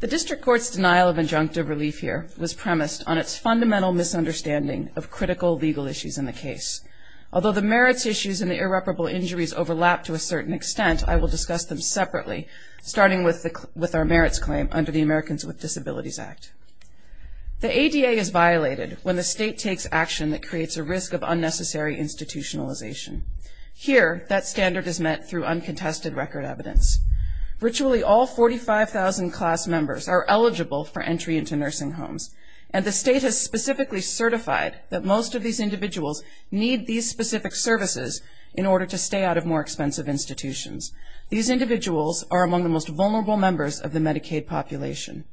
The District Court's denial of injunctive relief here was premised on its fundamental misunderstanding of critical legal issues in the case. Although the merits issues and the irreparable injuries overlap to a certain extent, I will discuss them separately, starting with our merits claim under the Americans with Disabilities Act. The ADA is violated when the state takes action that creates a risk of unnecessary institutionalization. Here, that standard is met through uncontested record evidence. Virtually all 45,000 class members are eligible for entry into nursing homes, and the state has specifically certified that most of these individuals need these specific services in order to stay out of more expensive institutions. These individuals are among the most vulnerable members of the Medicaid population.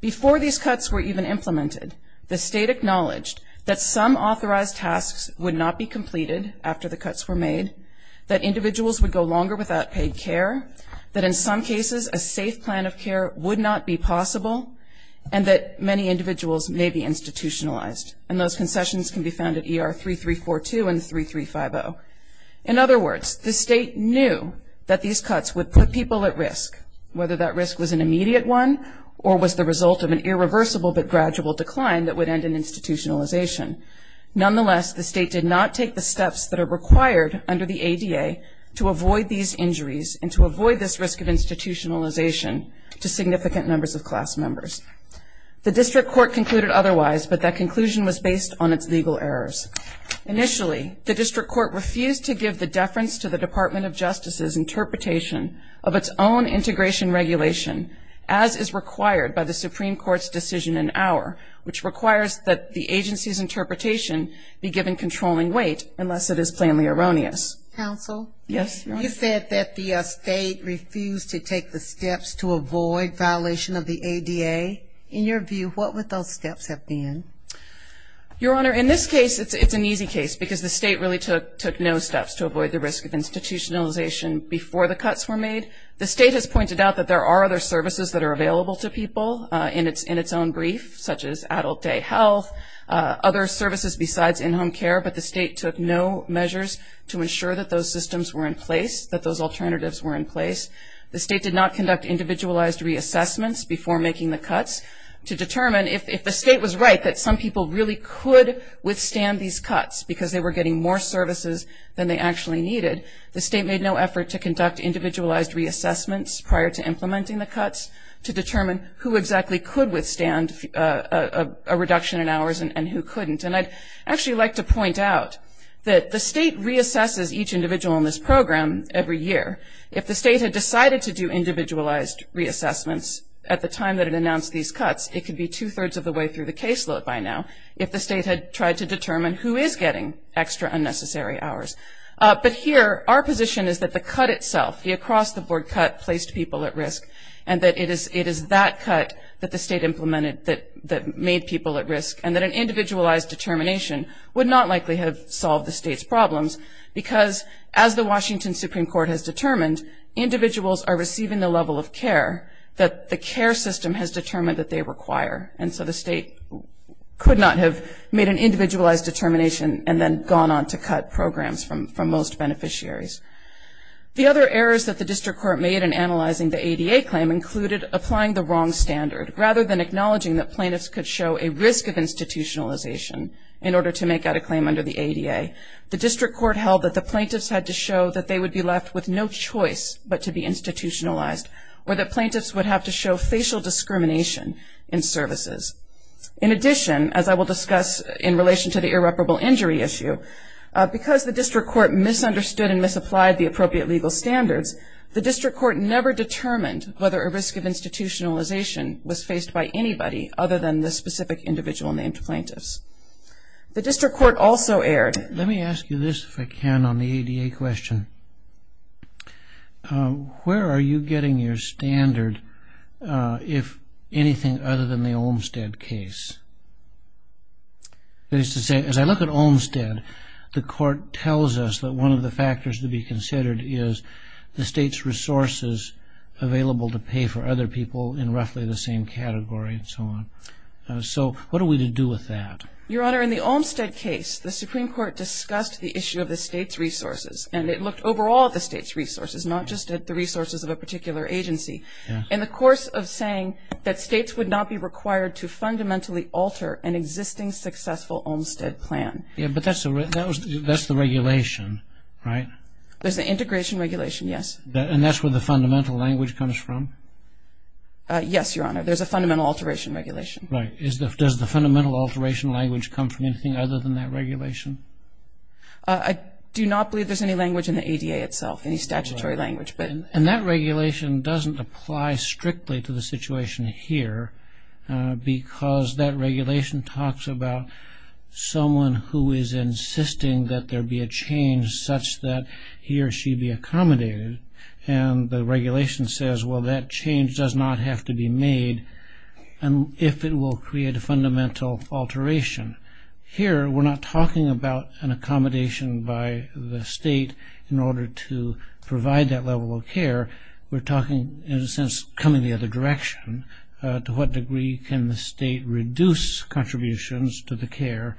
Before these cuts were even implemented, the state acknowledged that some authorized tasks would not be completed after the cuts were made, that individuals would go longer without paid care, that in some cases a safe plan of care would not be possible, and that many individuals may be institutionalized. And those concessions can be found at ER 3342 and 3350. In other words, the state knew that these cuts would put people at risk, whether that risk was an immediate one or was the result of an irreversible but gradual decline that would end in institutionalization. Nonetheless, the state did not take the steps that are required under the ADA to avoid these injuries and to avoid this risk of institutionalization to significant members of class members. The district court concluded otherwise, but that conclusion was based on its legal errors. Initially, the district court refused to give the deference to the Department of Justice's interpretation of its own integration regulation, as is required by the Supreme Court's decision in Auer, which requires that the agency's interpretation be given controlling weight unless it is plainly erroneous. Counsel? Yes, Your Honor. You said that the state refused to take the steps to avoid violation of the ADA. In your view, what would those steps have been? Your Honor, in this case, it's an easy case, because the state really took no steps to avoid the risk of institutionalization before the cuts were made. The state has pointed out that there are other services that are available to people in its own brief, such as adult day health, other services besides in-home care, but the state took no measures to ensure that those systems were in place, that those alternatives were in place. The state did not conduct individualized reassessments before making the cuts to determine, if the state was right that some people really could withstand these cuts because they were getting more services than they actually needed, the state made no effort to conduct individualized reassessments prior to implementing the cuts to determine who exactly could withstand a reduction in hours and who couldn't. And I'd actually like to point out that the state reassesses each individual in this program every year. If the state had decided to do individualized reassessments at the time that it announced these cuts, it could be two-thirds of the way through the caseload by now if the state had tried to determine who is getting extra unnecessary hours. But here, our position is that the cut itself, the across-the-board cut, placed people at risk, and that it is that cut that the state implemented that made people at risk, and that an individualized determination would not likely have solved the state's problems because as the Washington Supreme Court has determined, individuals are receiving the level of care that the care system has determined that they require. And so the state could not have made an individualized determination and then gone on to cut programs from most beneficiaries. The other errors that the district court made in analyzing the ADA claim included applying the wrong standard. Rather than acknowledging that plaintiffs could show a risk of institutionalization in order to make out a claim under the ADA, the district court held that the plaintiffs had to show that they would be left with no choice but to be institutionalized, or that plaintiffs would have to show facial discrimination in services. In addition, as I will discuss in relation to the irreparable injury issue, because the district court misunderstood and misapplied the appropriate legal standards, the district court never determined whether a risk of institutionalization was faced by anybody other than the specific individual named plaintiffs. The district court also erred. Let me ask you this, if I can, on the ADA question. Where are you getting your standard if anything other than the Olmstead case? That is to say, as I look at Olmstead, the court tells us that one of the factors to be considered is the state's resources available to pay for other people in roughly the same category and so on. So what are we to do with that? Your Honor, in the Olmstead case, the Supreme Court discussed the issue of the state's resources, and it looked overall at the state's resources, not just at the resources of a particular agency. In the course of saying that states would not be required to fundamentally alter an existing successful Olmstead plan. But that's the regulation, right? There's an integration regulation, yes. And that's where the fundamental language comes from? Yes, Your Honor. There's a fundamental alteration regulation. Right. Does the fundamental alteration language come from anything other than that regulation? I do not believe there's any language in the ADA itself, any statutory language. And that regulation doesn't apply strictly to the situation here because that regulation talks about someone who is insisting that there be a change such that he or she be accommodated. And the regulation says, well, that change does not have to be made if it will create a fundamental alteration. Here, we're not talking about an accommodation by the state in order to provide that level of care. We're talking, in a sense, coming the other direction. To what degree can the state reduce contributions to the care?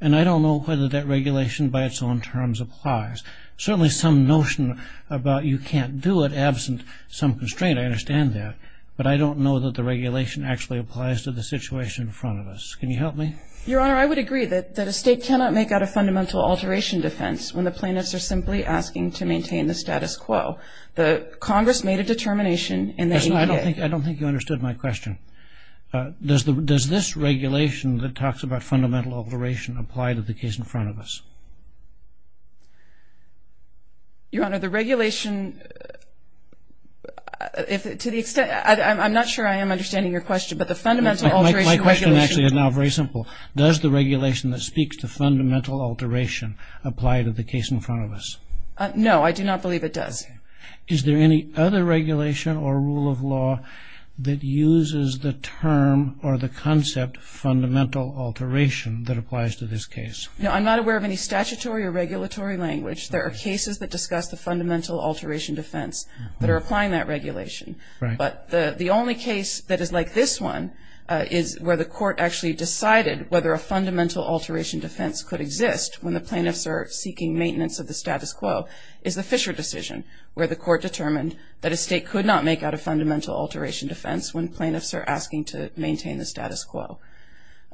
And I don't know whether that regulation by its own terms applies. Certainly some notion about you can't do it absent some constraint, I understand that. But I don't know that the regulation actually applies to the situation in front of us. Can you help me? Your Honor, I would agree that a state cannot make out a fundamental alteration defense when the plaintiffs are simply asking to maintain the status quo. Congress made a determination and then you did. I don't think you understood my question. Does this regulation that talks about fundamental alteration apply to the case in front of us? Your Honor, the regulation, to the extent, I'm not sure I am understanding your question, but the fundamental alteration regulation. My question actually is now very simple. Does the regulation that speaks to fundamental alteration apply to the case in front of us? No, I do not believe it does. Is there any other regulation or rule of law that uses the term or the concept fundamental alteration that applies to this case? No, I'm not aware of any statutory or regulatory language. There are cases that discuss the fundamental alteration defense that are applying that regulation. But the only case that is like this one is where the court actually decided whether a fundamental alteration defense could exist when the plaintiffs are seeking maintenance of the status quo is the Fisher decision where the court determined that a state could not make out a fundamental alteration defense when plaintiffs are asking to maintain the status quo.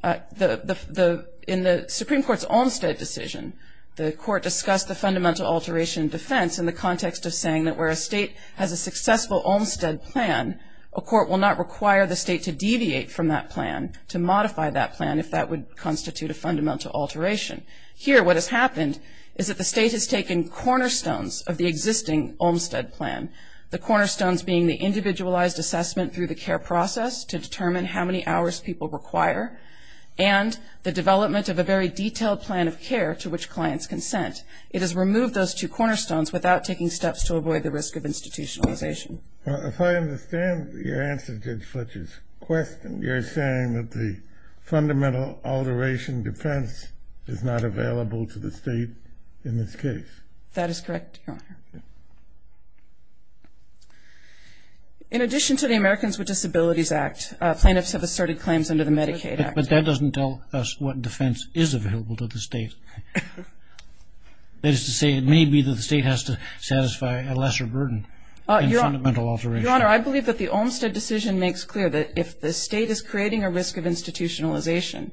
In the Supreme Court's Olmstead decision, the court discussed the fundamental alteration defense in the context of saying that where a state has a successful Olmstead plan, a court will not require the state to deviate from that plan, to modify that plan if that would constitute a fundamental alteration. Here what has happened is that the state has taken cornerstones of the existing Olmstead plan, the cornerstones being the individualized assessment through the care process to determine how many hours people require and the development of a very detailed plan of care to which clients consent. It has removed those two cornerstones without taking steps to avoid the risk of institutionalization. Well, if I understand your answer to Judge Fletcher's question, you're saying that the fundamental alteration defense is not available to the state in this case. That is correct, Your Honor. In addition to the Americans with Disabilities Act, plaintiffs have asserted claims under the Medicaid Act. But that doesn't tell us what defense is available to the state. That is to say, it may be that the state has to satisfy a lesser burden in fundamental alteration. Your Honor, I believe that the Olmstead decision makes clear that if the state is creating a risk of institutionalization,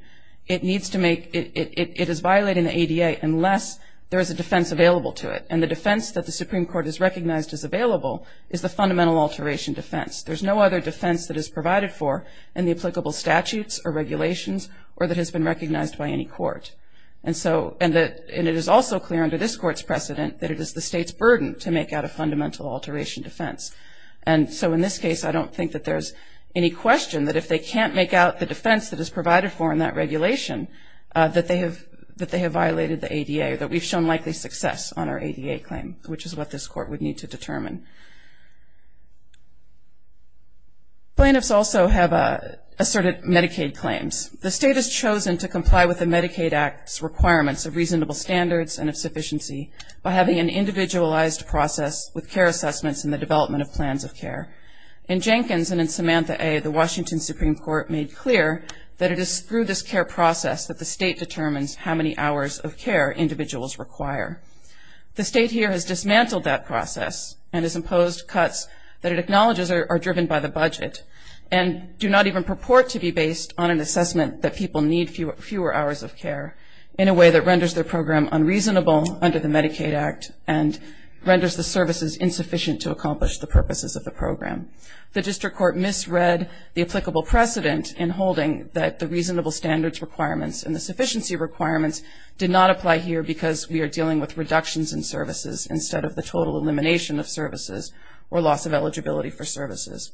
it is violating the ADA unless there is a defense available to it. And the defense that the Supreme Court has recognized as available is the fundamental alteration defense. There's no other defense that is provided for in the applicable statutes or regulations or that has been recognized by any court. And it is also clear under this Court's precedent that it is the state's burden to make out a fundamental alteration defense. And so in this case, I don't think that there's any question that if they can't make out the defense that is provided for in that regulation, that they have violated the ADA, that we've shown likely success on our ADA claim, which is what this Court would need to determine. Plaintiffs also have asserted Medicaid claims. The state has chosen to comply with the Medicaid Act's requirements of reasonable standards and of sufficiency by having an individualized process with care assessments and the development of plans of care. In Jenkins and in Samantha A., the Washington Supreme Court made clear that it is through this care process that the state determines how many hours of care individuals require. The state here has dismantled that process and has imposed cuts that it acknowledges are driven by the budget and do not even purport to be based on an assessment that people need fewer hours of care in a way that renders their program unreasonable under the Medicaid Act and renders the services insufficient to accomplish the purposes of the program. The district court misread the applicable precedent in holding that the reasonable standards requirements and the sufficiency requirements did not apply here because we are dealing with reductions in services instead of the total elimination of services or loss of eligibility for services.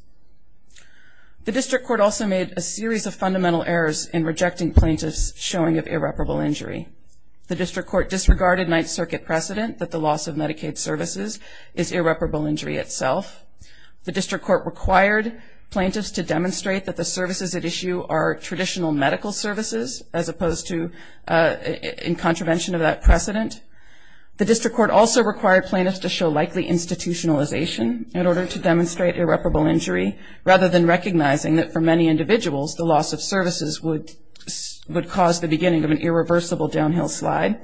The district court also made a series of fundamental errors in rejecting plaintiffs' showing of irreparable injury. The district court disregarded Ninth Circuit precedent that the loss of Medicaid services is irreparable injury itself. The district court required plaintiffs to demonstrate that the services at issue are traditional medical services as opposed to in contravention of that precedent. The district court also required plaintiffs to show likely institutionalization in order to demonstrate irreparable injury rather than recognizing that for many individuals the loss of services would cause the beginning of an irreversible downhill slide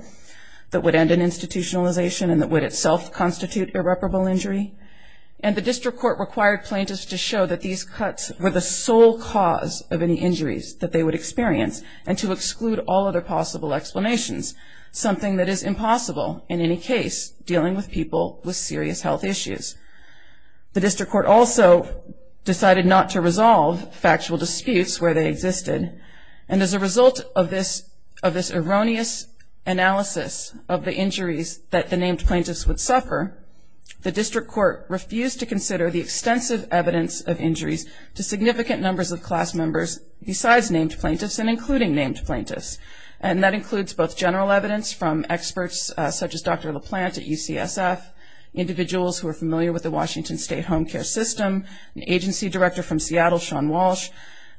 that would end in institutionalization and that would itself constitute irreparable injury. And the district court required plaintiffs to show that these cuts were the sole cause of any injuries that they would experience and to exclude all other possible explanations, something that is impossible in any case dealing with people with serious health issues. The district court also decided not to resolve factual disputes where they existed and as a result of this erroneous analysis of the injuries that the named plaintiffs would suffer, the district court refused to consider the extensive evidence of injuries to significant numbers of class members besides named plaintiffs and including named plaintiffs and that includes both general evidence from experts such as Dr. LaPlante at UCSF, individuals who are familiar with the Washington State Home Care System, the agency director from Seattle, Sean Walsh.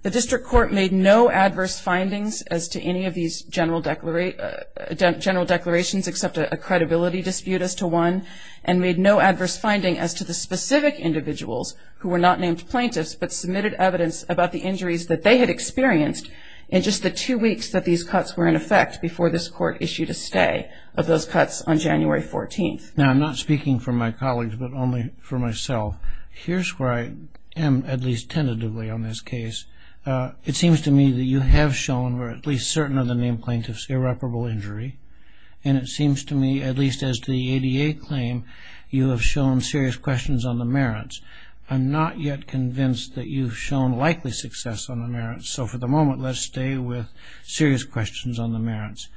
The district court made no adverse findings as to any of these general declarations except a credibility dispute as to one and made no adverse finding as to the specific individuals who were not named plaintiffs but submitted evidence about the injuries that they had experienced in just the two weeks that these cuts were in effect before this court issued a stay of those cuts on January 14th. Now I'm not speaking for my colleagues but only for myself. Here's where I am at least tentatively on this case. It seems to me that you have shown or at least certain of the named plaintiffs irreparable injury and it seems to me at least as the ADA claim you have shown serious questions on the merits. I'm not yet convinced that you've shown likely success on the merits so for the moment let's stay with serious questions on the merits.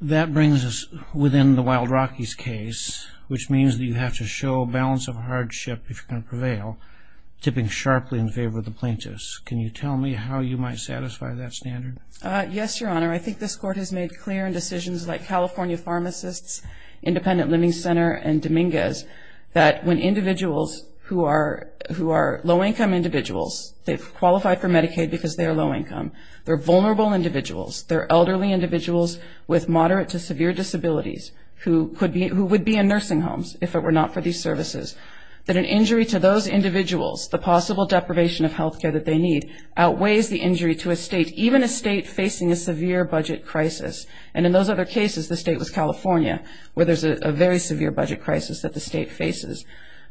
That brings us within the Wild Rockies case which means that you have to show a balance of hardship if you're going to prevail tipping sharply in favor of the plaintiffs. Can you tell me how you might satisfy that standard? Yes, Your Honor. I think this court has made clear in decisions like California Pharmacists, Independent Living Center and Dominguez that when individuals who are low-income individuals, they've qualified for Medicaid because they are low-income, they're vulnerable individuals, they're elderly individuals with moderate to severe disabilities who would be in nursing homes if it were not for these services, that an injury to those individuals, the possible deprivation of health care that they need outweighs the injury to a state, even a state facing a severe budget crisis. And in those other cases the state was California where there's a very severe budget crisis that the state faces.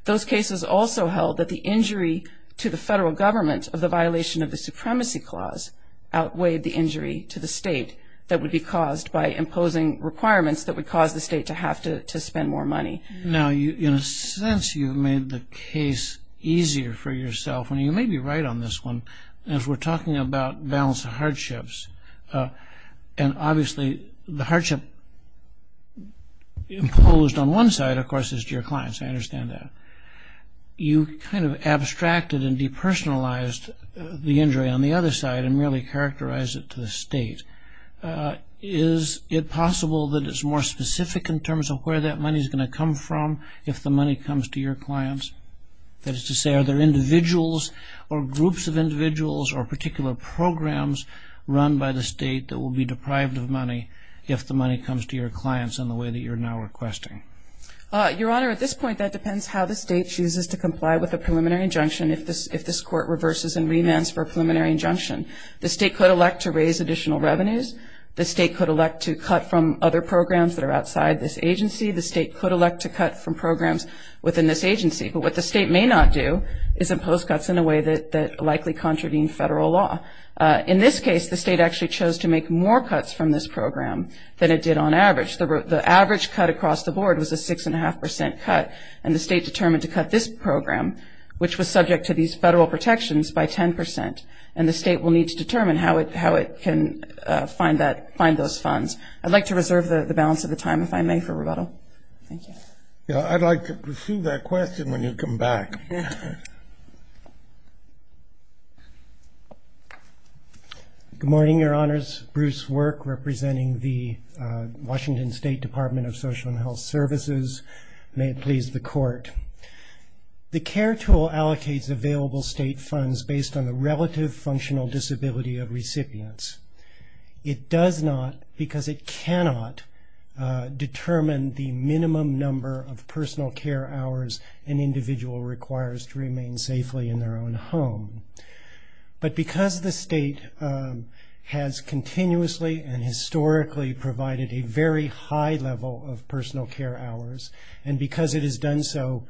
Those cases also held that the injury to the federal government of the violation of the supremacy clause outweighed the injury to the state that would be caused by imposing requirements that would cause the state to have to spend more money. Now, in a sense, you've made the case easier for yourself. And you may be right on this one. As we're talking about balance of hardships, and obviously the hardship imposed on one side, of course, is to your clients. I understand that. You kind of abstracted and depersonalized the injury on the other side and merely characterized it to the state. Is it possible that it's more specific in terms of where that money is going to come from if the money comes to your clients? That is to say, are there individuals or groups of individuals or particular programs run by the state that will be deprived of money if the money comes to your clients in the way that you're now requesting? Your Honor, at this point, that depends how the state chooses to comply with a preliminary injunction if this court reverses and remands for a preliminary injunction. The state could elect to raise additional revenues. The state could elect to cut from other programs that are outside this agency. The state could elect to cut from programs within this agency. But what the state may not do is impose cuts in a way that likely contravene federal law. In this case, the state actually chose to make more cuts from this program than it did on average. The average cut across the board was a 6.5% cut, and the state determined to cut this program, which was subject to these federal protections, by 10%. And the state will need to determine how it can find those funds. I'd like to reserve the balance of the time, if I may, for rebuttal. Thank you. I'd like to pursue that question when you come back. Thank you. Good morning, Your Honors. Bruce Work, representing the Washington State Department of Social and Health Services. May it please the Court. The CARE tool allocates available state funds based on the relative functional disability of recipients. It does not because it cannot determine the minimum number of personal care hours an individual requires to remain safely in their own home. But because the state has continuously and historically provided a very high level of personal care hours, and because it has done so,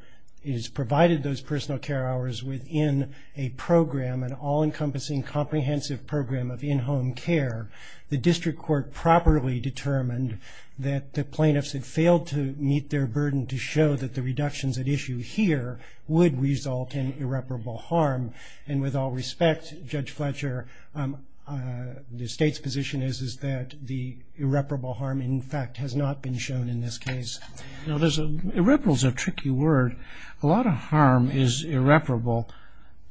it has provided those personal care hours within a program, an all-encompassing comprehensive program of in-home care, the district court properly determined that the plaintiffs had failed to meet their burden to show that the reductions at issue here would result in irreparable harm. And with all respect, Judge Fletcher, the state's position is that the irreparable harm, in fact, has not been shown in this case. Irreparable is a tricky word. A lot of harm is irreparable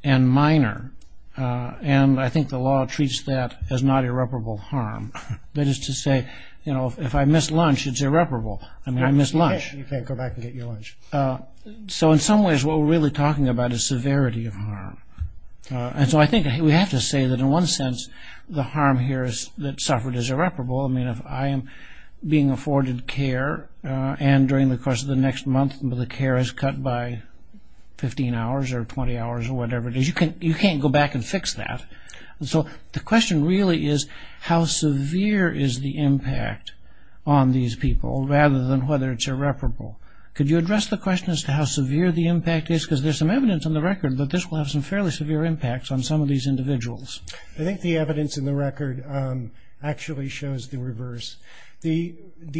and minor, and I think the law treats that as not irreparable harm. That is to say, you know, if I miss lunch, it's irreparable. I mean, I miss lunch. You can't go back and get your lunch. So in some ways what we're really talking about is severity of harm. And so I think we have to say that in one sense the harm here that suffered is irreparable. I mean, if I am being afforded care and during the course of the next month the care is cut by 15 hours or 20 hours or whatever it is, you can't go back and fix that. So the question really is how severe is the impact on these people rather than whether it's irreparable. Could you address the question as to how severe the impact is? Because there's some evidence on the record that this will have some fairly severe impacts on some of these individuals. I think the evidence in the record actually shows the reverse. The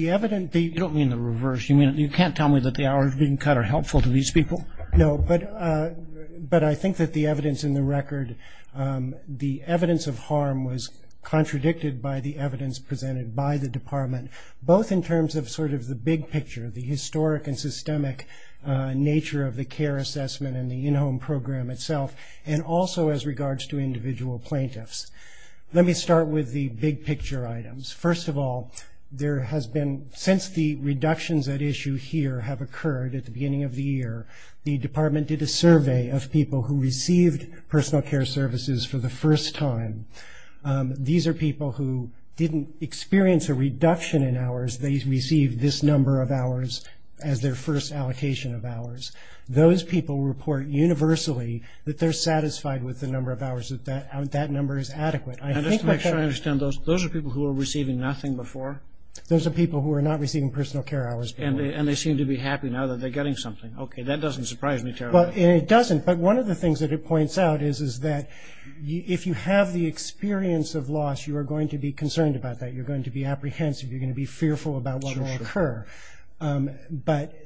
evidence... You don't mean the reverse. You mean you can't tell me that the hours being cut are helpful to these people? No, but I think that the evidence in the record, the evidence of harm was contradicted by the evidence presented by the department, both in terms of sort of the big picture, the historic and systemic nature of the care assessment and the in-home program itself, and also as regards to individual plaintiffs. Let me start with the big picture items. First of all, there has been, since the reductions at issue here have occurred at the beginning of the year, the department did a survey of people who received personal care services for the first time. These are people who didn't experience a reduction in hours. They received this number of hours as their first allocation of hours. Those people report universally that they're satisfied with the number of hours, that that number is adequate. And just to make sure I understand, those are people who were receiving nothing before? Those are people who were not receiving personal care hours before. And they seem to be happy now that they're getting something. Okay, that doesn't surprise me terribly. It doesn't, but one of the things that it points out is that if you have the experience of loss, you are going to be concerned about that. You're going to be apprehensive. You're going to be fearful about what will occur. But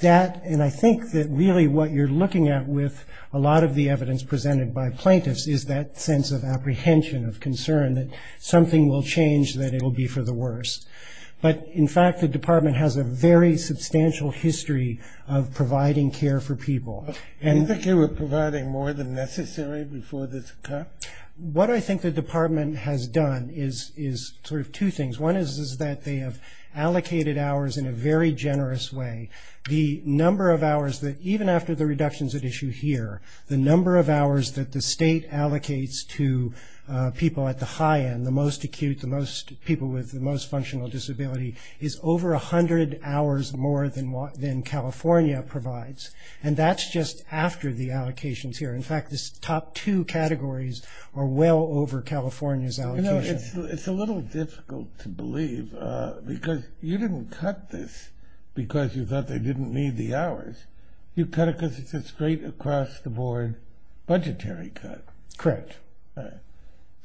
that, and I think that really what you're looking at with a lot of the evidence presented by plaintiffs is that sense of apprehension, of concern that something will change, that it will be for the worst. But, in fact, the department has a very substantial history of providing care for people. Do you think they were providing more than necessary before this occurred? What I think the department has done is sort of two things. One is that they have allocated hours in a very generous way. The number of hours that even after the reductions at issue here, the number of hours that the state allocates to people at the high end, the most acute, the people with the most functional disability, is over 100 hours more than California provides. And that's just after the allocations here. In fact, the top two categories are well over California's allocation. You know, it's a little difficult to believe because you didn't cut this because you thought they didn't need the hours. You cut it because it's a straight across-the-board budgetary cut. Correct.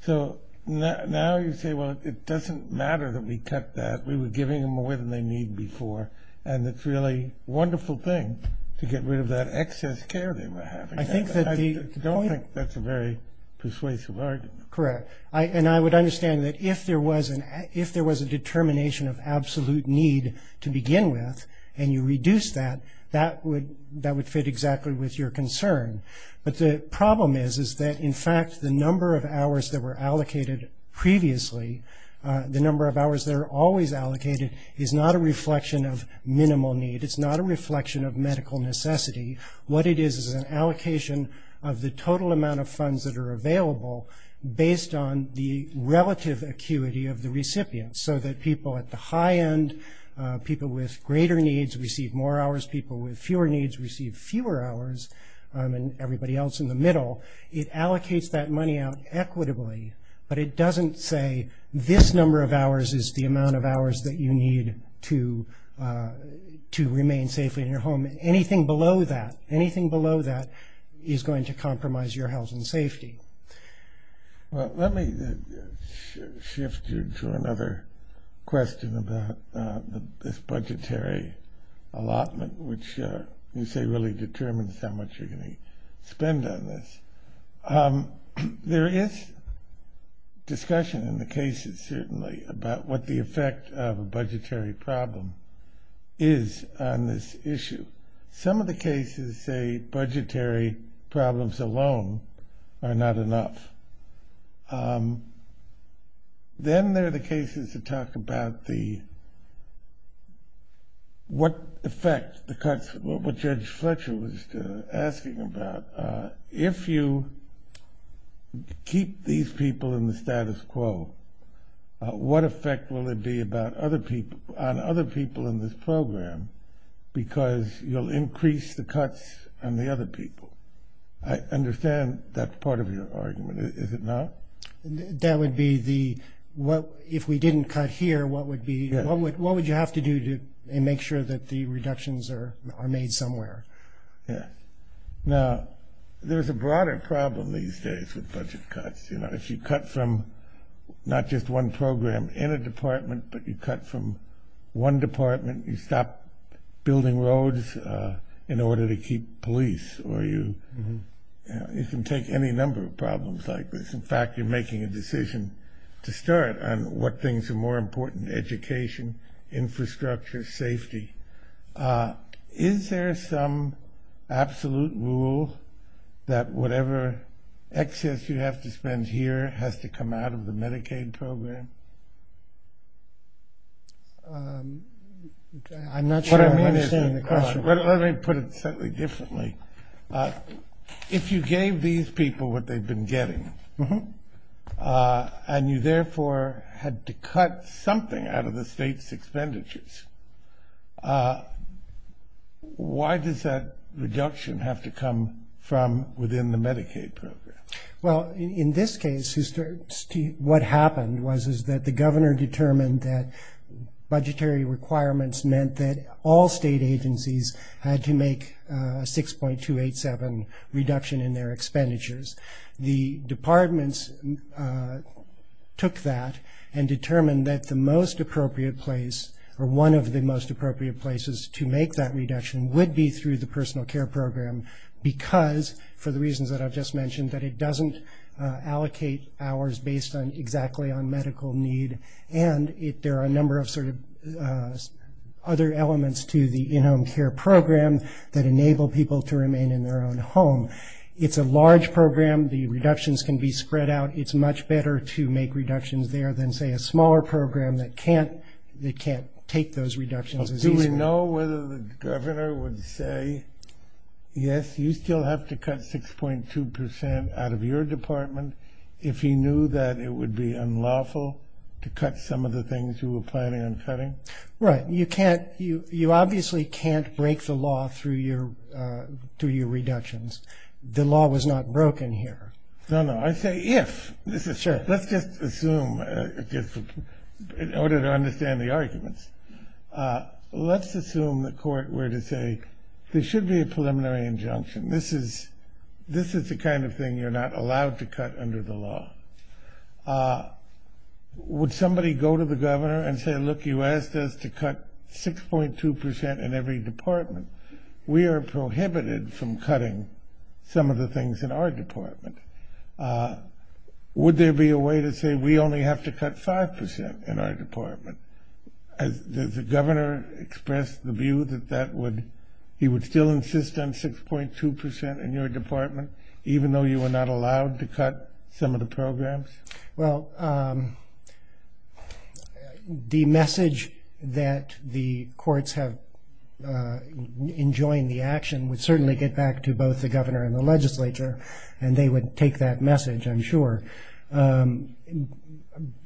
So now you say, well, it doesn't matter that we cut that. We were giving them more than they need before, and it's a really wonderful thing to get rid of that excess care they were having. I don't think that's a very persuasive argument. Correct. And I would understand that if there was a determination of absolute need to begin with and you reduced that, that would fit exactly with your concern. But the problem is, is that, in fact, the number of hours that were allocated previously, the number of hours that are always allocated, is not a reflection of minimal need. It's not a reflection of medical necessity. What it is is an allocation of the total amount of funds that are available based on the relative acuity of the recipient so that people at the high end, people with greater needs receive more hours, people with fewer needs receive fewer hours, and everybody else in the middle. It allocates that money out equitably, but it doesn't say this number of hours is the amount of hours that you need to remain safely in your home. Anything below that, anything below that is going to compromise your health and safety. Well, let me shift you to another question about this budgetary allotment, which you say really determines how much you're going to spend on this. There is discussion in the cases, certainly, about what the effect of a budgetary problem is on this issue. Some of the cases say budgetary problems alone are not enough. Then there are the cases that talk about what effect the cuts, what Judge Fletcher was asking about. If you keep these people in the status quo, what effect will it be on other people in this program? Because you'll increase the cuts on the other people. I understand that part of your argument. Is it not? That would be if we didn't cut here, what would you have to do to make sure that the reductions are made somewhere? Yes. Now, there's a broader problem these days with budget cuts. If you cut from not just one program in a department, but you cut from one department, you stop building roads in order to keep police, or you can take any number of problems like this. In fact, you're making a decision to start on what things are more important, education, infrastructure, safety. Is there some absolute rule that whatever excess you have to spend here has to come out of the Medicaid program? I'm not sure I'm understanding the question. Let me put it slightly differently. If you gave these people what they've been getting, and you therefore had to cut something out of the state's expenditures, why does that reduction have to come from within the Medicaid program? Well, in this case, what happened was that the governor determined that budgetary requirements meant that all state agencies had to make a 6.287 reduction in their expenditures. The departments took that and determined that the most appropriate place, or one of the most appropriate places to make that reduction would be through the personal care program, because, for the reasons that I've just mentioned, that it doesn't allocate hours based exactly on medical need, and there are a number of other elements to the in-home care program that enable people to remain in their own home. It's a large program. The reductions can be spread out. It's much better to make reductions there than, say, a smaller program that can't take those reductions as easily. Do we know whether the governor would say, yes, you still have to cut 6.2 percent out of your department, if he knew that it would be unlawful to cut some of the things you were planning on cutting? Right. You obviously can't break the law through your reductions. The law was not broken here. No, no. I say if. Sure. Let's just assume, in order to understand the arguments, let's assume the court were to say there should be a preliminary injunction. This is the kind of thing you're not allowed to cut under the law. Would somebody go to the governor and say, look, you asked us to cut 6.2 percent in every department. We are prohibited from cutting some of the things in our department. Would there be a way to say we only have to cut 5 percent in our department? Has the governor expressed the view that he would still insist on 6.2 percent in your department, even though you were not allowed to cut some of the programs? Well, the message that the courts have enjoined the action would certainly get back to both the governor and the legislature, and they would take that message, I'm sure.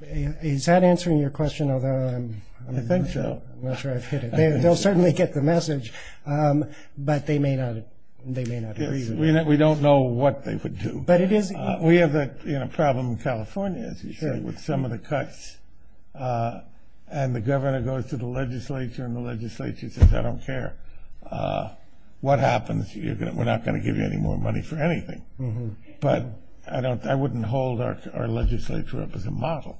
Is that answering your question? I think so. I'm not sure I've hit it. They'll certainly get the message, but they may not agree with it. We don't know what they would do. We have a problem in California, as you say, with some of the cuts, and the governor goes to the legislature, and the legislature says, I don't care what happens, we're not going to give you any more money for anything. But I wouldn't hold our legislature up as a model.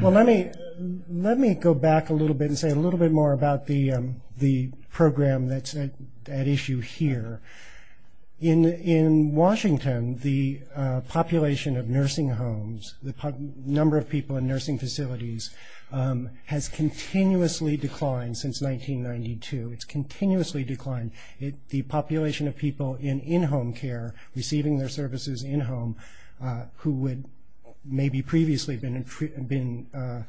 Well, let me go back a little bit and say a little bit more about the program that's at issue here. In Washington, the population of nursing homes, the number of people in nursing facilities has continuously declined since 1992. It's continuously declined. The population of people in in-home care receiving their services in-home who had maybe previously been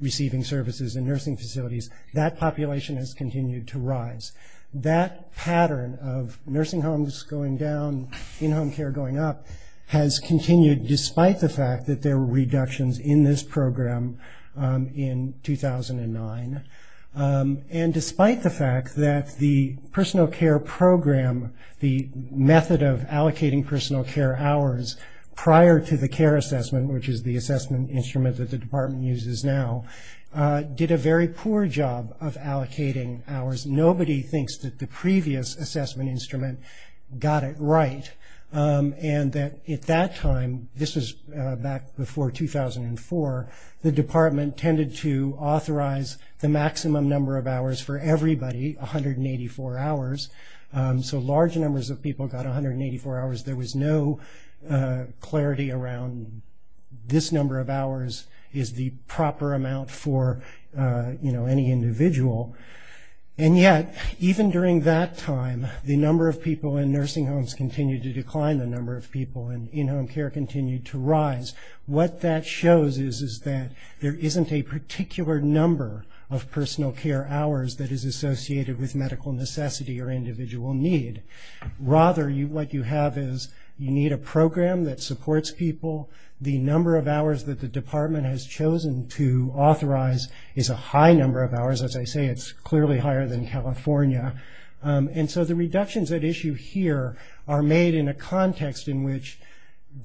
receiving services in nursing facilities, that population has continued to rise. That pattern of nursing homes going down, in-home care going up, has continued despite the fact that there were reductions in this program in 2009, and despite the fact that the personal care program, the method of allocating personal care hours prior to the care assessment, which is the assessment instrument that the department uses now, did a very poor job of allocating hours. Nobody thinks that the previous assessment instrument got it right, and that at that time, this was back before 2004, the department tended to authorize the maximum number of hours for everybody, 184 hours. So large numbers of people got 184 hours. There was no clarity around this number of hours is the proper amount for, you know, any individual. And yet, even during that time, the number of people in nursing homes continued to decline, the number of people in in-home care continued to rise. What that shows is that there isn't a particular number of personal care hours that is associated with medical necessity or individual need. Rather, what you have is you need a program that supports people. The number of hours that the department has chosen to authorize is a high number of hours. As I say, it's clearly higher than California. And so the reductions at issue here are made in a context in which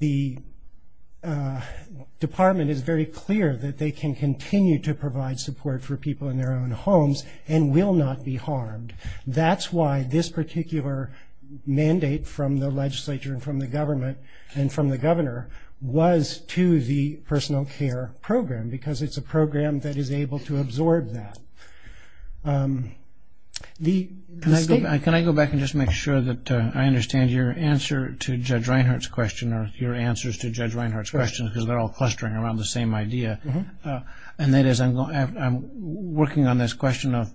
the department is very clear that they can continue to provide support for people in their own homes, and will not be harmed. That's why this particular mandate from the legislature and from the government and from the governor was to the personal care program, because it's a program that is able to absorb that. Can I go back and just make sure that I understand your answer to Judge Reinhart's question, or your answers to Judge Reinhart's question, because they're all clustering around the same idea. And that is, I'm working on this question of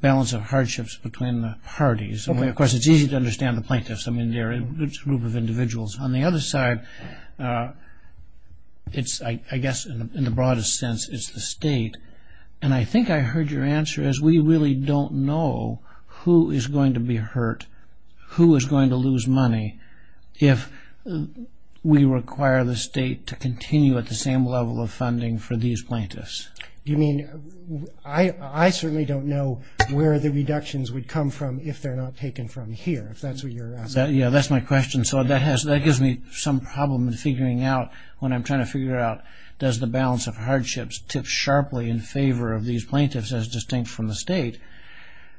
balance of hardships between the parties. Of course, it's easy to understand the plaintiffs. I mean, they're a group of individuals. On the other side, I guess in the broadest sense, it's the state. And I think I heard your answer as we really don't know who is going to be hurt, who is going to lose money if we require the state to continue at the same level of funding for these plaintiffs. You mean, I certainly don't know where the reductions would come from if they're not taken from here, if that's what you're asking. Yeah, that's my question. So that gives me some problem in figuring out, when I'm trying to figure out, does the balance of hardships tip sharply in favor of these plaintiffs as distinct from the state.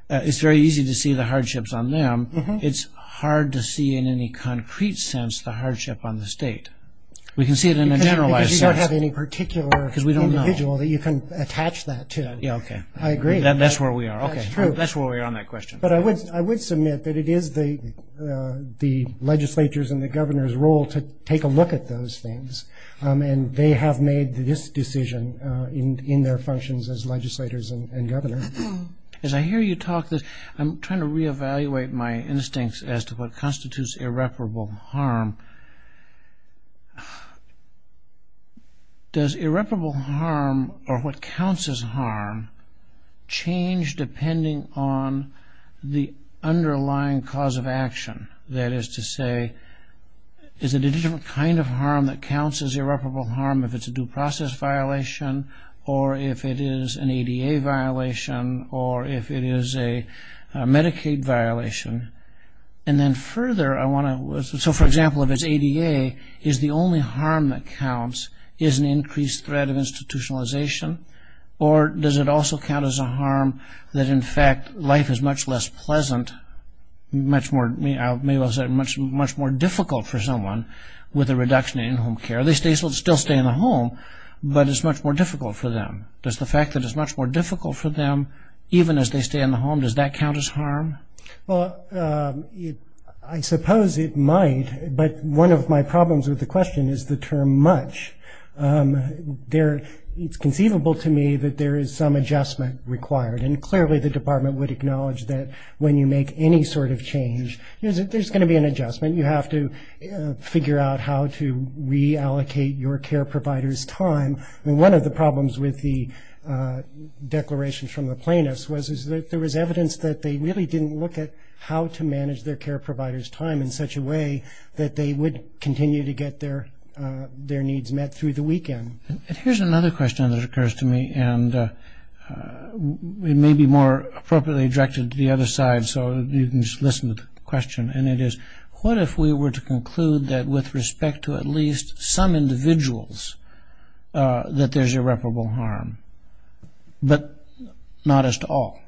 It's very easy to see the hardships on them. It's hard to see in any concrete sense the hardship on the state. We can see it in a generalized sense. Because you don't have any particular individual that you can attach that to. Yeah, okay. I agree. That's where we are. That's true. That's where we are on that question. But I would submit that it is the legislature's and the governor's role to take a look at those things. And they have made this decision in their functions as legislators and governors. As I hear you talk, I'm trying to reevaluate my instincts as to what constitutes irreparable harm. Does irreparable harm or what counts as harm change depending on the underlying cause of action? That is to say, is it a different kind of harm that counts as irreparable harm if it's a due process violation, or if it is an ADA violation, or if it is a Medicaid violation? And then further, I want to, so for example, if it's ADA, is the only harm that counts is an increased threat of institutionalization? Or does it also count as a harm that, in fact, life is much less pleasant, much more difficult for someone with a reduction in home care? They still stay in the home, but it's much more difficult for them. Does the fact that it's much more difficult for them, even as they stay in the home, does that count as harm? Well, I suppose it might, but one of my problems with the question is the term much. It's conceivable to me that there is some adjustment required. And clearly the department would acknowledge that when you make any sort of change, there's going to be an adjustment. You have to figure out how to reallocate your care provider's time. One of the problems with the declaration from the plaintiffs was that there was evidence that they really didn't look at how to manage their care provider's time in such a way that they would continue to get their needs met through the weekend. Here's another question that occurs to me, and it may be more appropriately directed to the other side, so you can just listen to the question. And it is, what if we were to conclude that with respect to at least some individuals that there's irreparable harm, but not as to all?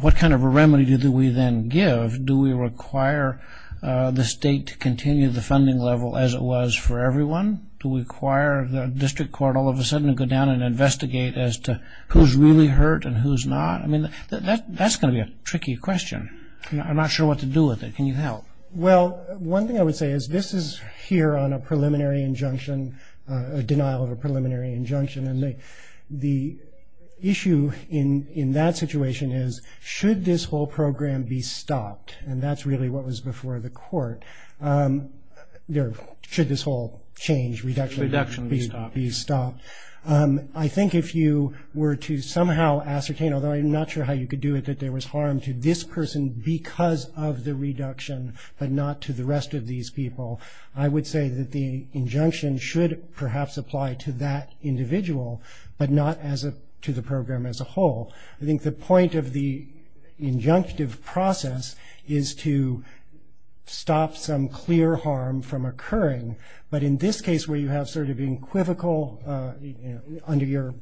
What kind of a remedy do we then give? Do we require the state to continue the funding level as it was for everyone? Do we require the district court all of a sudden to go down and investigate as to who's really hurt and who's not? I mean, that's going to be a tricky question. I'm not sure what to do with it. Can you help? Well, one thing I would say is this is here on a preliminary injunction, a denial of a preliminary injunction. And the issue in that situation is should this whole program be stopped? And that's really what was before the court. Should this whole change, reduction be stopped? I think if you were to somehow ascertain, although I'm not sure how you could do it, that there was harm to this person because of the reduction, but not to the rest of these people, I would say that the injunction should perhaps apply to that individual, but not to the program as a whole. I think the point of the injunctive process is to stop some clear harm from occurring. But in this case where you have sort of an equivocal under your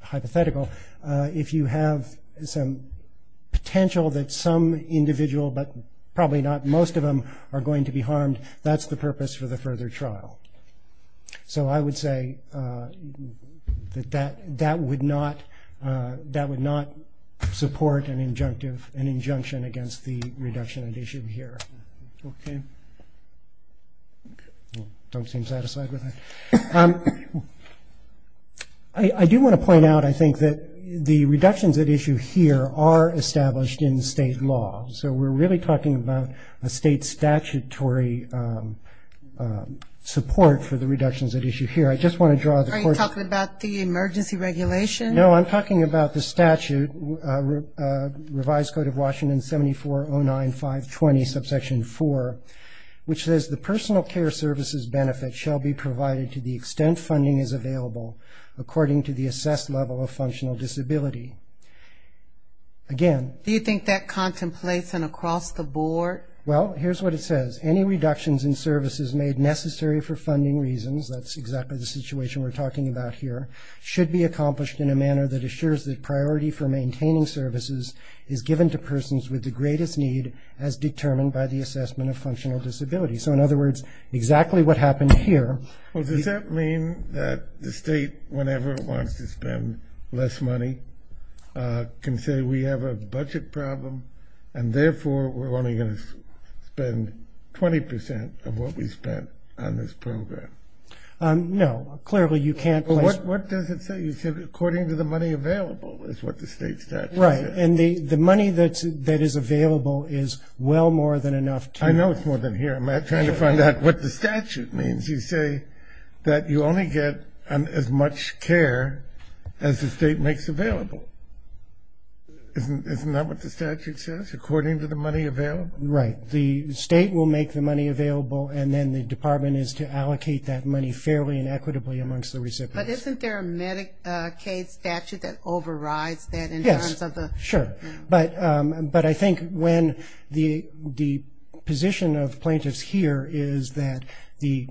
hypothetical, if you have some potential that some individual, but probably not most of them, are going to be harmed, that's the purpose for the further trial. So I would say that that would not support an injunction against the reduction at issue here. Okay. Don't seem satisfied with that. I do want to point out, I think, that the reductions at issue here are established in state law. So we're really talking about a state statutory support for the reductions at issue here. I just want to draw the court's- Are you talking about the emergency regulation? No, I'm talking about the statute, Revised Code of Washington 7409520, subsection 4, which says the personal care services benefit shall be provided to the extent funding is available, according to the assessed level of functional disability. Again- Do you think that contemplates an across-the-board- Well, here's what it says. Any reductions in services made necessary for funding reasons, that's exactly the situation we're talking about here, should be accomplished in a manner that assures that priority for maintaining services is given to persons with the greatest need as determined by the assessment of functional disability. So in other words, exactly what happened here- Well, does that mean that the state, whenever it wants to spend less money, can say we have a budget problem and, therefore, we're only going to spend 20 percent of what we spent on this program? No. Clearly, you can't place- Well, what does it say? You said according to the money available, is what the state statute says. Right. And the money that is available is well more than enough to- I know it's more than here. I'm trying to find out what the statute means. You say that you only get as much care as the state makes available. Isn't that what the statute says, according to the money available? Right. The state will make the money available, and then the department is to allocate that money fairly and equitably amongst the recipients. But isn't there a Medicaid statute that overrides that in terms of the- Yes, sure. But I think when the position of plaintiffs here is that the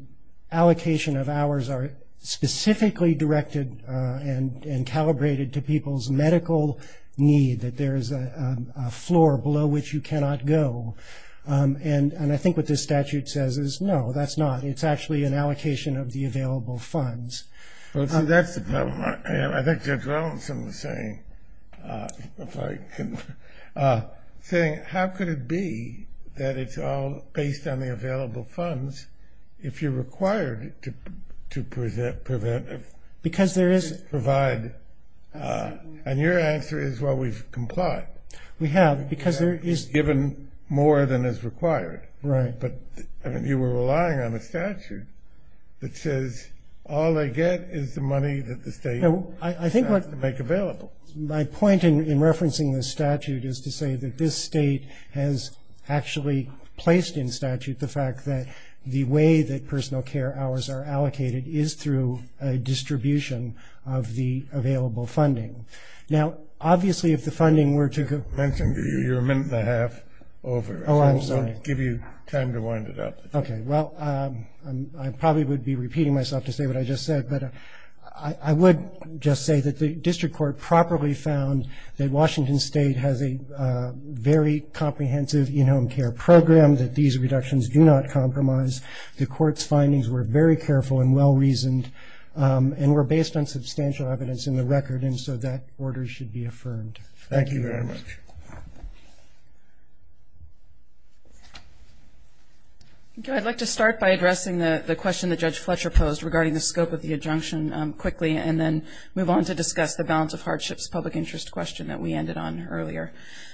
allocation of hours are specifically directed and calibrated to people's medical need, that there is a floor below which you cannot go. And I think what this statute says is, no, that's not. It's actually an allocation of the available funds. Well, see, that's the problem. I think Judge Wellenson was saying, if I can, saying how could it be that it's all based on the available funds if you're required to prevent- Because there is- Provide. And your answer is, well, we've complied. We have, because there is- Given more than is required. Right. But you were relying on a statute that says all they get is the money that the state has to make available. My point in referencing this statute is to say that this state has actually placed in statute the fact that the way that personal care hours are allocated is through a distribution of the available funding. Now, obviously, if the funding were to- You're a minute and a half over. Oh, I'm sorry. I'll give you time to wind it up. Okay, well, I probably would be repeating myself to say what I just said, but I would just say that the district court properly found that Washington State has a very comprehensive in-home care program, that these reductions do not compromise. The court's findings were very careful and well-reasoned, and were based on substantial evidence in the record, and so that order should be affirmed. Thank you very much. I'd like to start by addressing the question that Judge Fletcher posed regarding the scope of the injunction quickly and then move on to discuss the balance of hardships public interest question that we ended on earlier.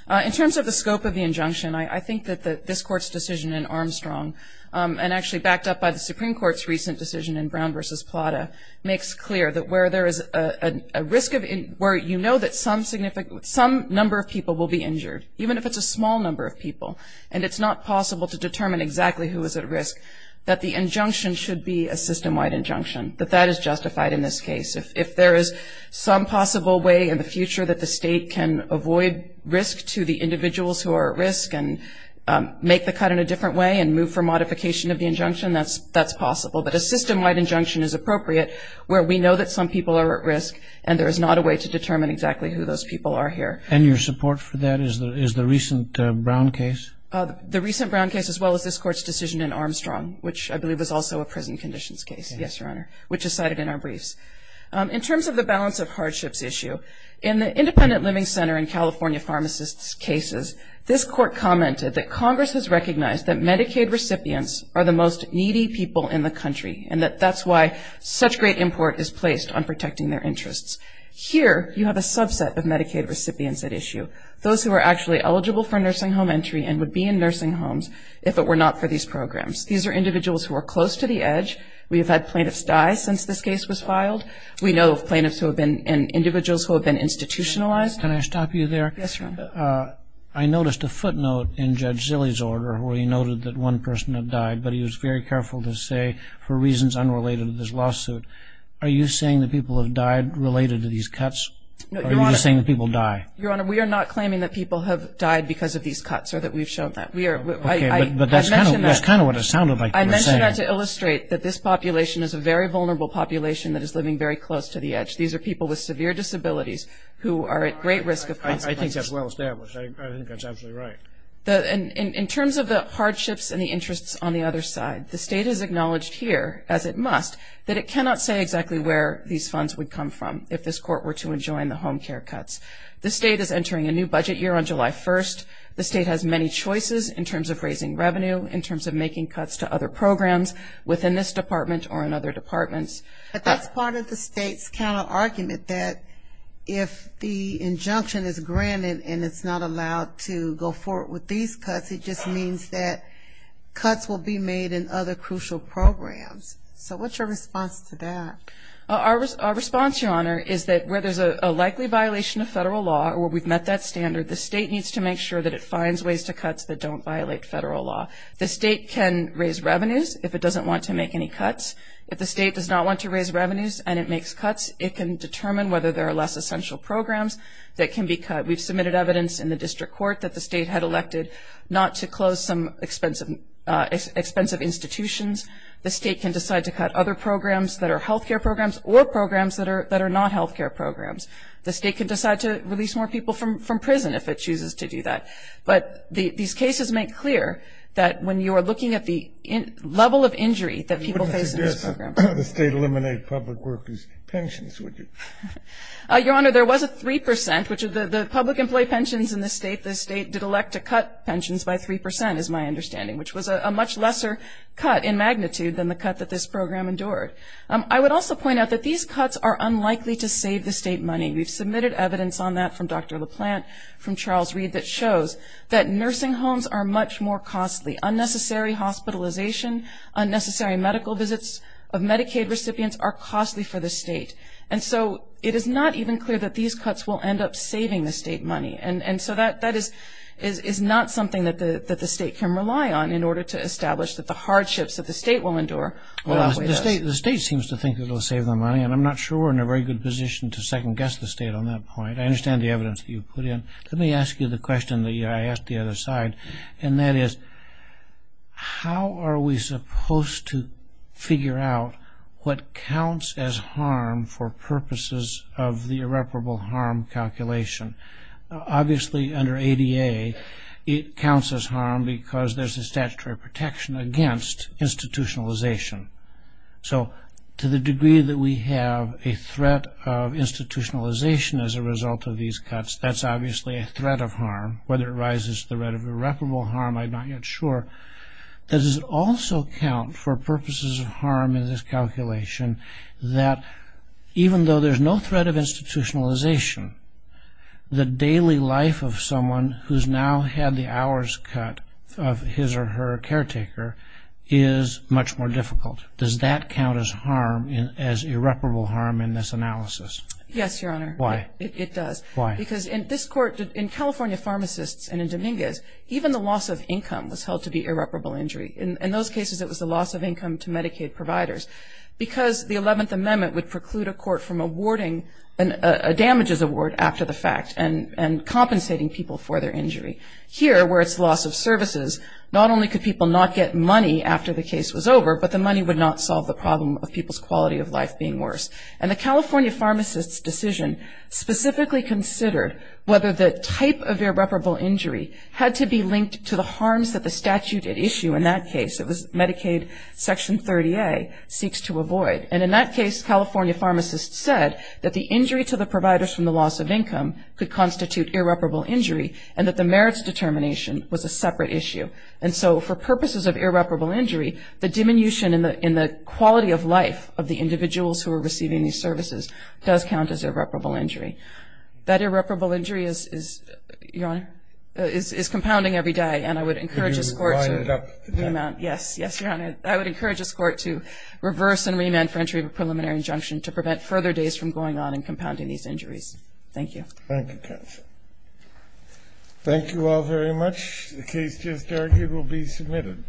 In terms of the scope of the injunction, I think that this court's decision in Armstrong, and actually backed up by the Supreme Court's recent decision in Brown v. Plata, makes clear that where there is a risk of where you know that some number of people will be injured, even if it's a small number of people, and it's not possible to determine exactly who is at risk, that the injunction should be a system-wide injunction, that that is justified in this case. If there is some possible way in the future that the state can avoid risk to the individuals who are at risk and make the cut in a different way and move for modification of the injunction, that's possible. But a system-wide injunction is appropriate where we know that some people are at risk and there is not a way to determine exactly who those people are here. And your support for that is the recent Brown case? The recent Brown case as well as this court's decision in Armstrong, which I believe is also a prison conditions case, yes, Your Honor, which is cited in our briefs. In terms of the balance of hardships issue, in the independent living center in California pharmacists' cases, this court commented that Congress has recognized that Medicaid recipients are the most needy people in the country and that that's why such great import is placed on protecting their interests. Here you have a subset of Medicaid recipients at issue, those who are actually eligible for nursing home entry and would be in nursing homes if it were not for these programs. These are individuals who are close to the edge. We have had plaintiffs die since this case was filed. We know of plaintiffs who have been and individuals who have been institutionalized. Can I stop you there? Yes, Your Honor. I noticed a footnote in Judge Zille's order where he noted that one person had died, but he was very careful to say for reasons unrelated to this lawsuit, are you saying that people have died related to these cuts or are you saying that people die? Your Honor, we are not claiming that people have died because of these cuts or that we've shown that. Okay, but that's kind of what it sounded like you were saying. I mentioned that to illustrate that this population is a very vulnerable population that is living very close to the edge. These are people with severe disabilities who are at great risk of consequences. I think that's well established. I think that's absolutely right. In terms of the hardships and the interests on the other side, the state has acknowledged here, as it must, that it cannot say exactly where these funds would come from if this court were to enjoin the home care cuts. The state is entering a new budget year on July 1st. The state has many choices in terms of raising revenue, in terms of making cuts to other programs within this department or in other departments. But that's part of the state's kind of argument that if the injunction is granted and it's not allowed to go forward with these cuts, it just means that cuts will be made in other crucial programs. So what's your response to that? Our response, Your Honor, is that where there's a likely violation of federal law or where we've met that standard, the state needs to make sure that it finds ways to cuts that don't violate federal law. The state can raise revenues if it doesn't want to make any cuts. If the state does not want to raise revenues and it makes cuts, it can determine whether there are less essential programs that can be cut. We've submitted evidence in the district court that the state had elected not to close some expensive institutions. The state can decide to cut other programs that are health care programs or programs that are not health care programs. The state can decide to release more people from prison if it chooses to do that. But these cases make clear that when you are looking at the level of injury that people face in this program. You wouldn't suggest the state eliminate public workers' pensions, would you? Your Honor, there was a 3 percent, which the public employee pensions in the state, the state did elect to cut pensions by 3 percent is my understanding, which was a much lesser cut in magnitude than the cut that this program endured. I would also point out that these cuts are unlikely to save the state money. We've submitted evidence on that from Dr. LaPlante, from Charles Reed, that shows that nursing homes are much more costly. Unnecessary hospitalization, unnecessary medical visits of Medicaid recipients are costly for the state. And so it is not even clear that these cuts will end up saving the state money. And so that is not something that the state can rely on in order to establish that the hardships that the state will endure. The state seems to think it will save them money, and I'm not sure we're in a very good position to second-guess the state on that point. I understand the evidence that you put in. Let me ask you the question that I asked the other side, and that is how are we supposed to figure out what counts as harm for purposes of the irreparable harm calculation? Obviously, under ADA, it counts as harm because there's a statutory protection against institutionalization. So to the degree that we have a threat of institutionalization as a result of these cuts, that's obviously a threat of harm, whether it rises to the threat of irreparable harm, I'm not yet sure. Does it also count for purposes of harm in this calculation that even though there's no threat of institutionalization, the daily life of someone who's now had the hours cut of his or her caretaker is much more difficult? Does that count as harm, as irreparable harm in this analysis? Yes, Your Honor. Why? It does. Why? Because in this court, in California pharmacists and in Dominguez, even the loss of income was held to be irreparable injury. In those cases, it was the loss of income to Medicaid providers. Because the 11th Amendment would preclude a court from awarding a damages award after the fact and compensating people for their injury. Here, where it's loss of services, not only could people not get money after the case was over, but the money would not solve the problem of people's quality of life being worse. And the California pharmacists' decision specifically considered whether the type of irreparable injury had to be linked to the harms that the statute had issued in that case. It was Medicaid Section 30A, seeks to avoid. And in that case, California pharmacists said that the injury to the providers from the loss of income could constitute irreparable injury and that the merits determination was a separate issue. And so for purposes of irreparable injury, the diminution in the quality of life of the individuals who are receiving these services does count as irreparable injury. That irreparable injury is, Your Honor, is compounding every day. And I would encourage this Court to remount. Could you wind it up? Yes. Yes, Your Honor. I would encourage this Court to reverse and remand for entry of a preliminary injunction to prevent further days from going on and compounding these injuries. Thank you. Thank you, counsel. Thank you all very much. The case just argued will be submitted.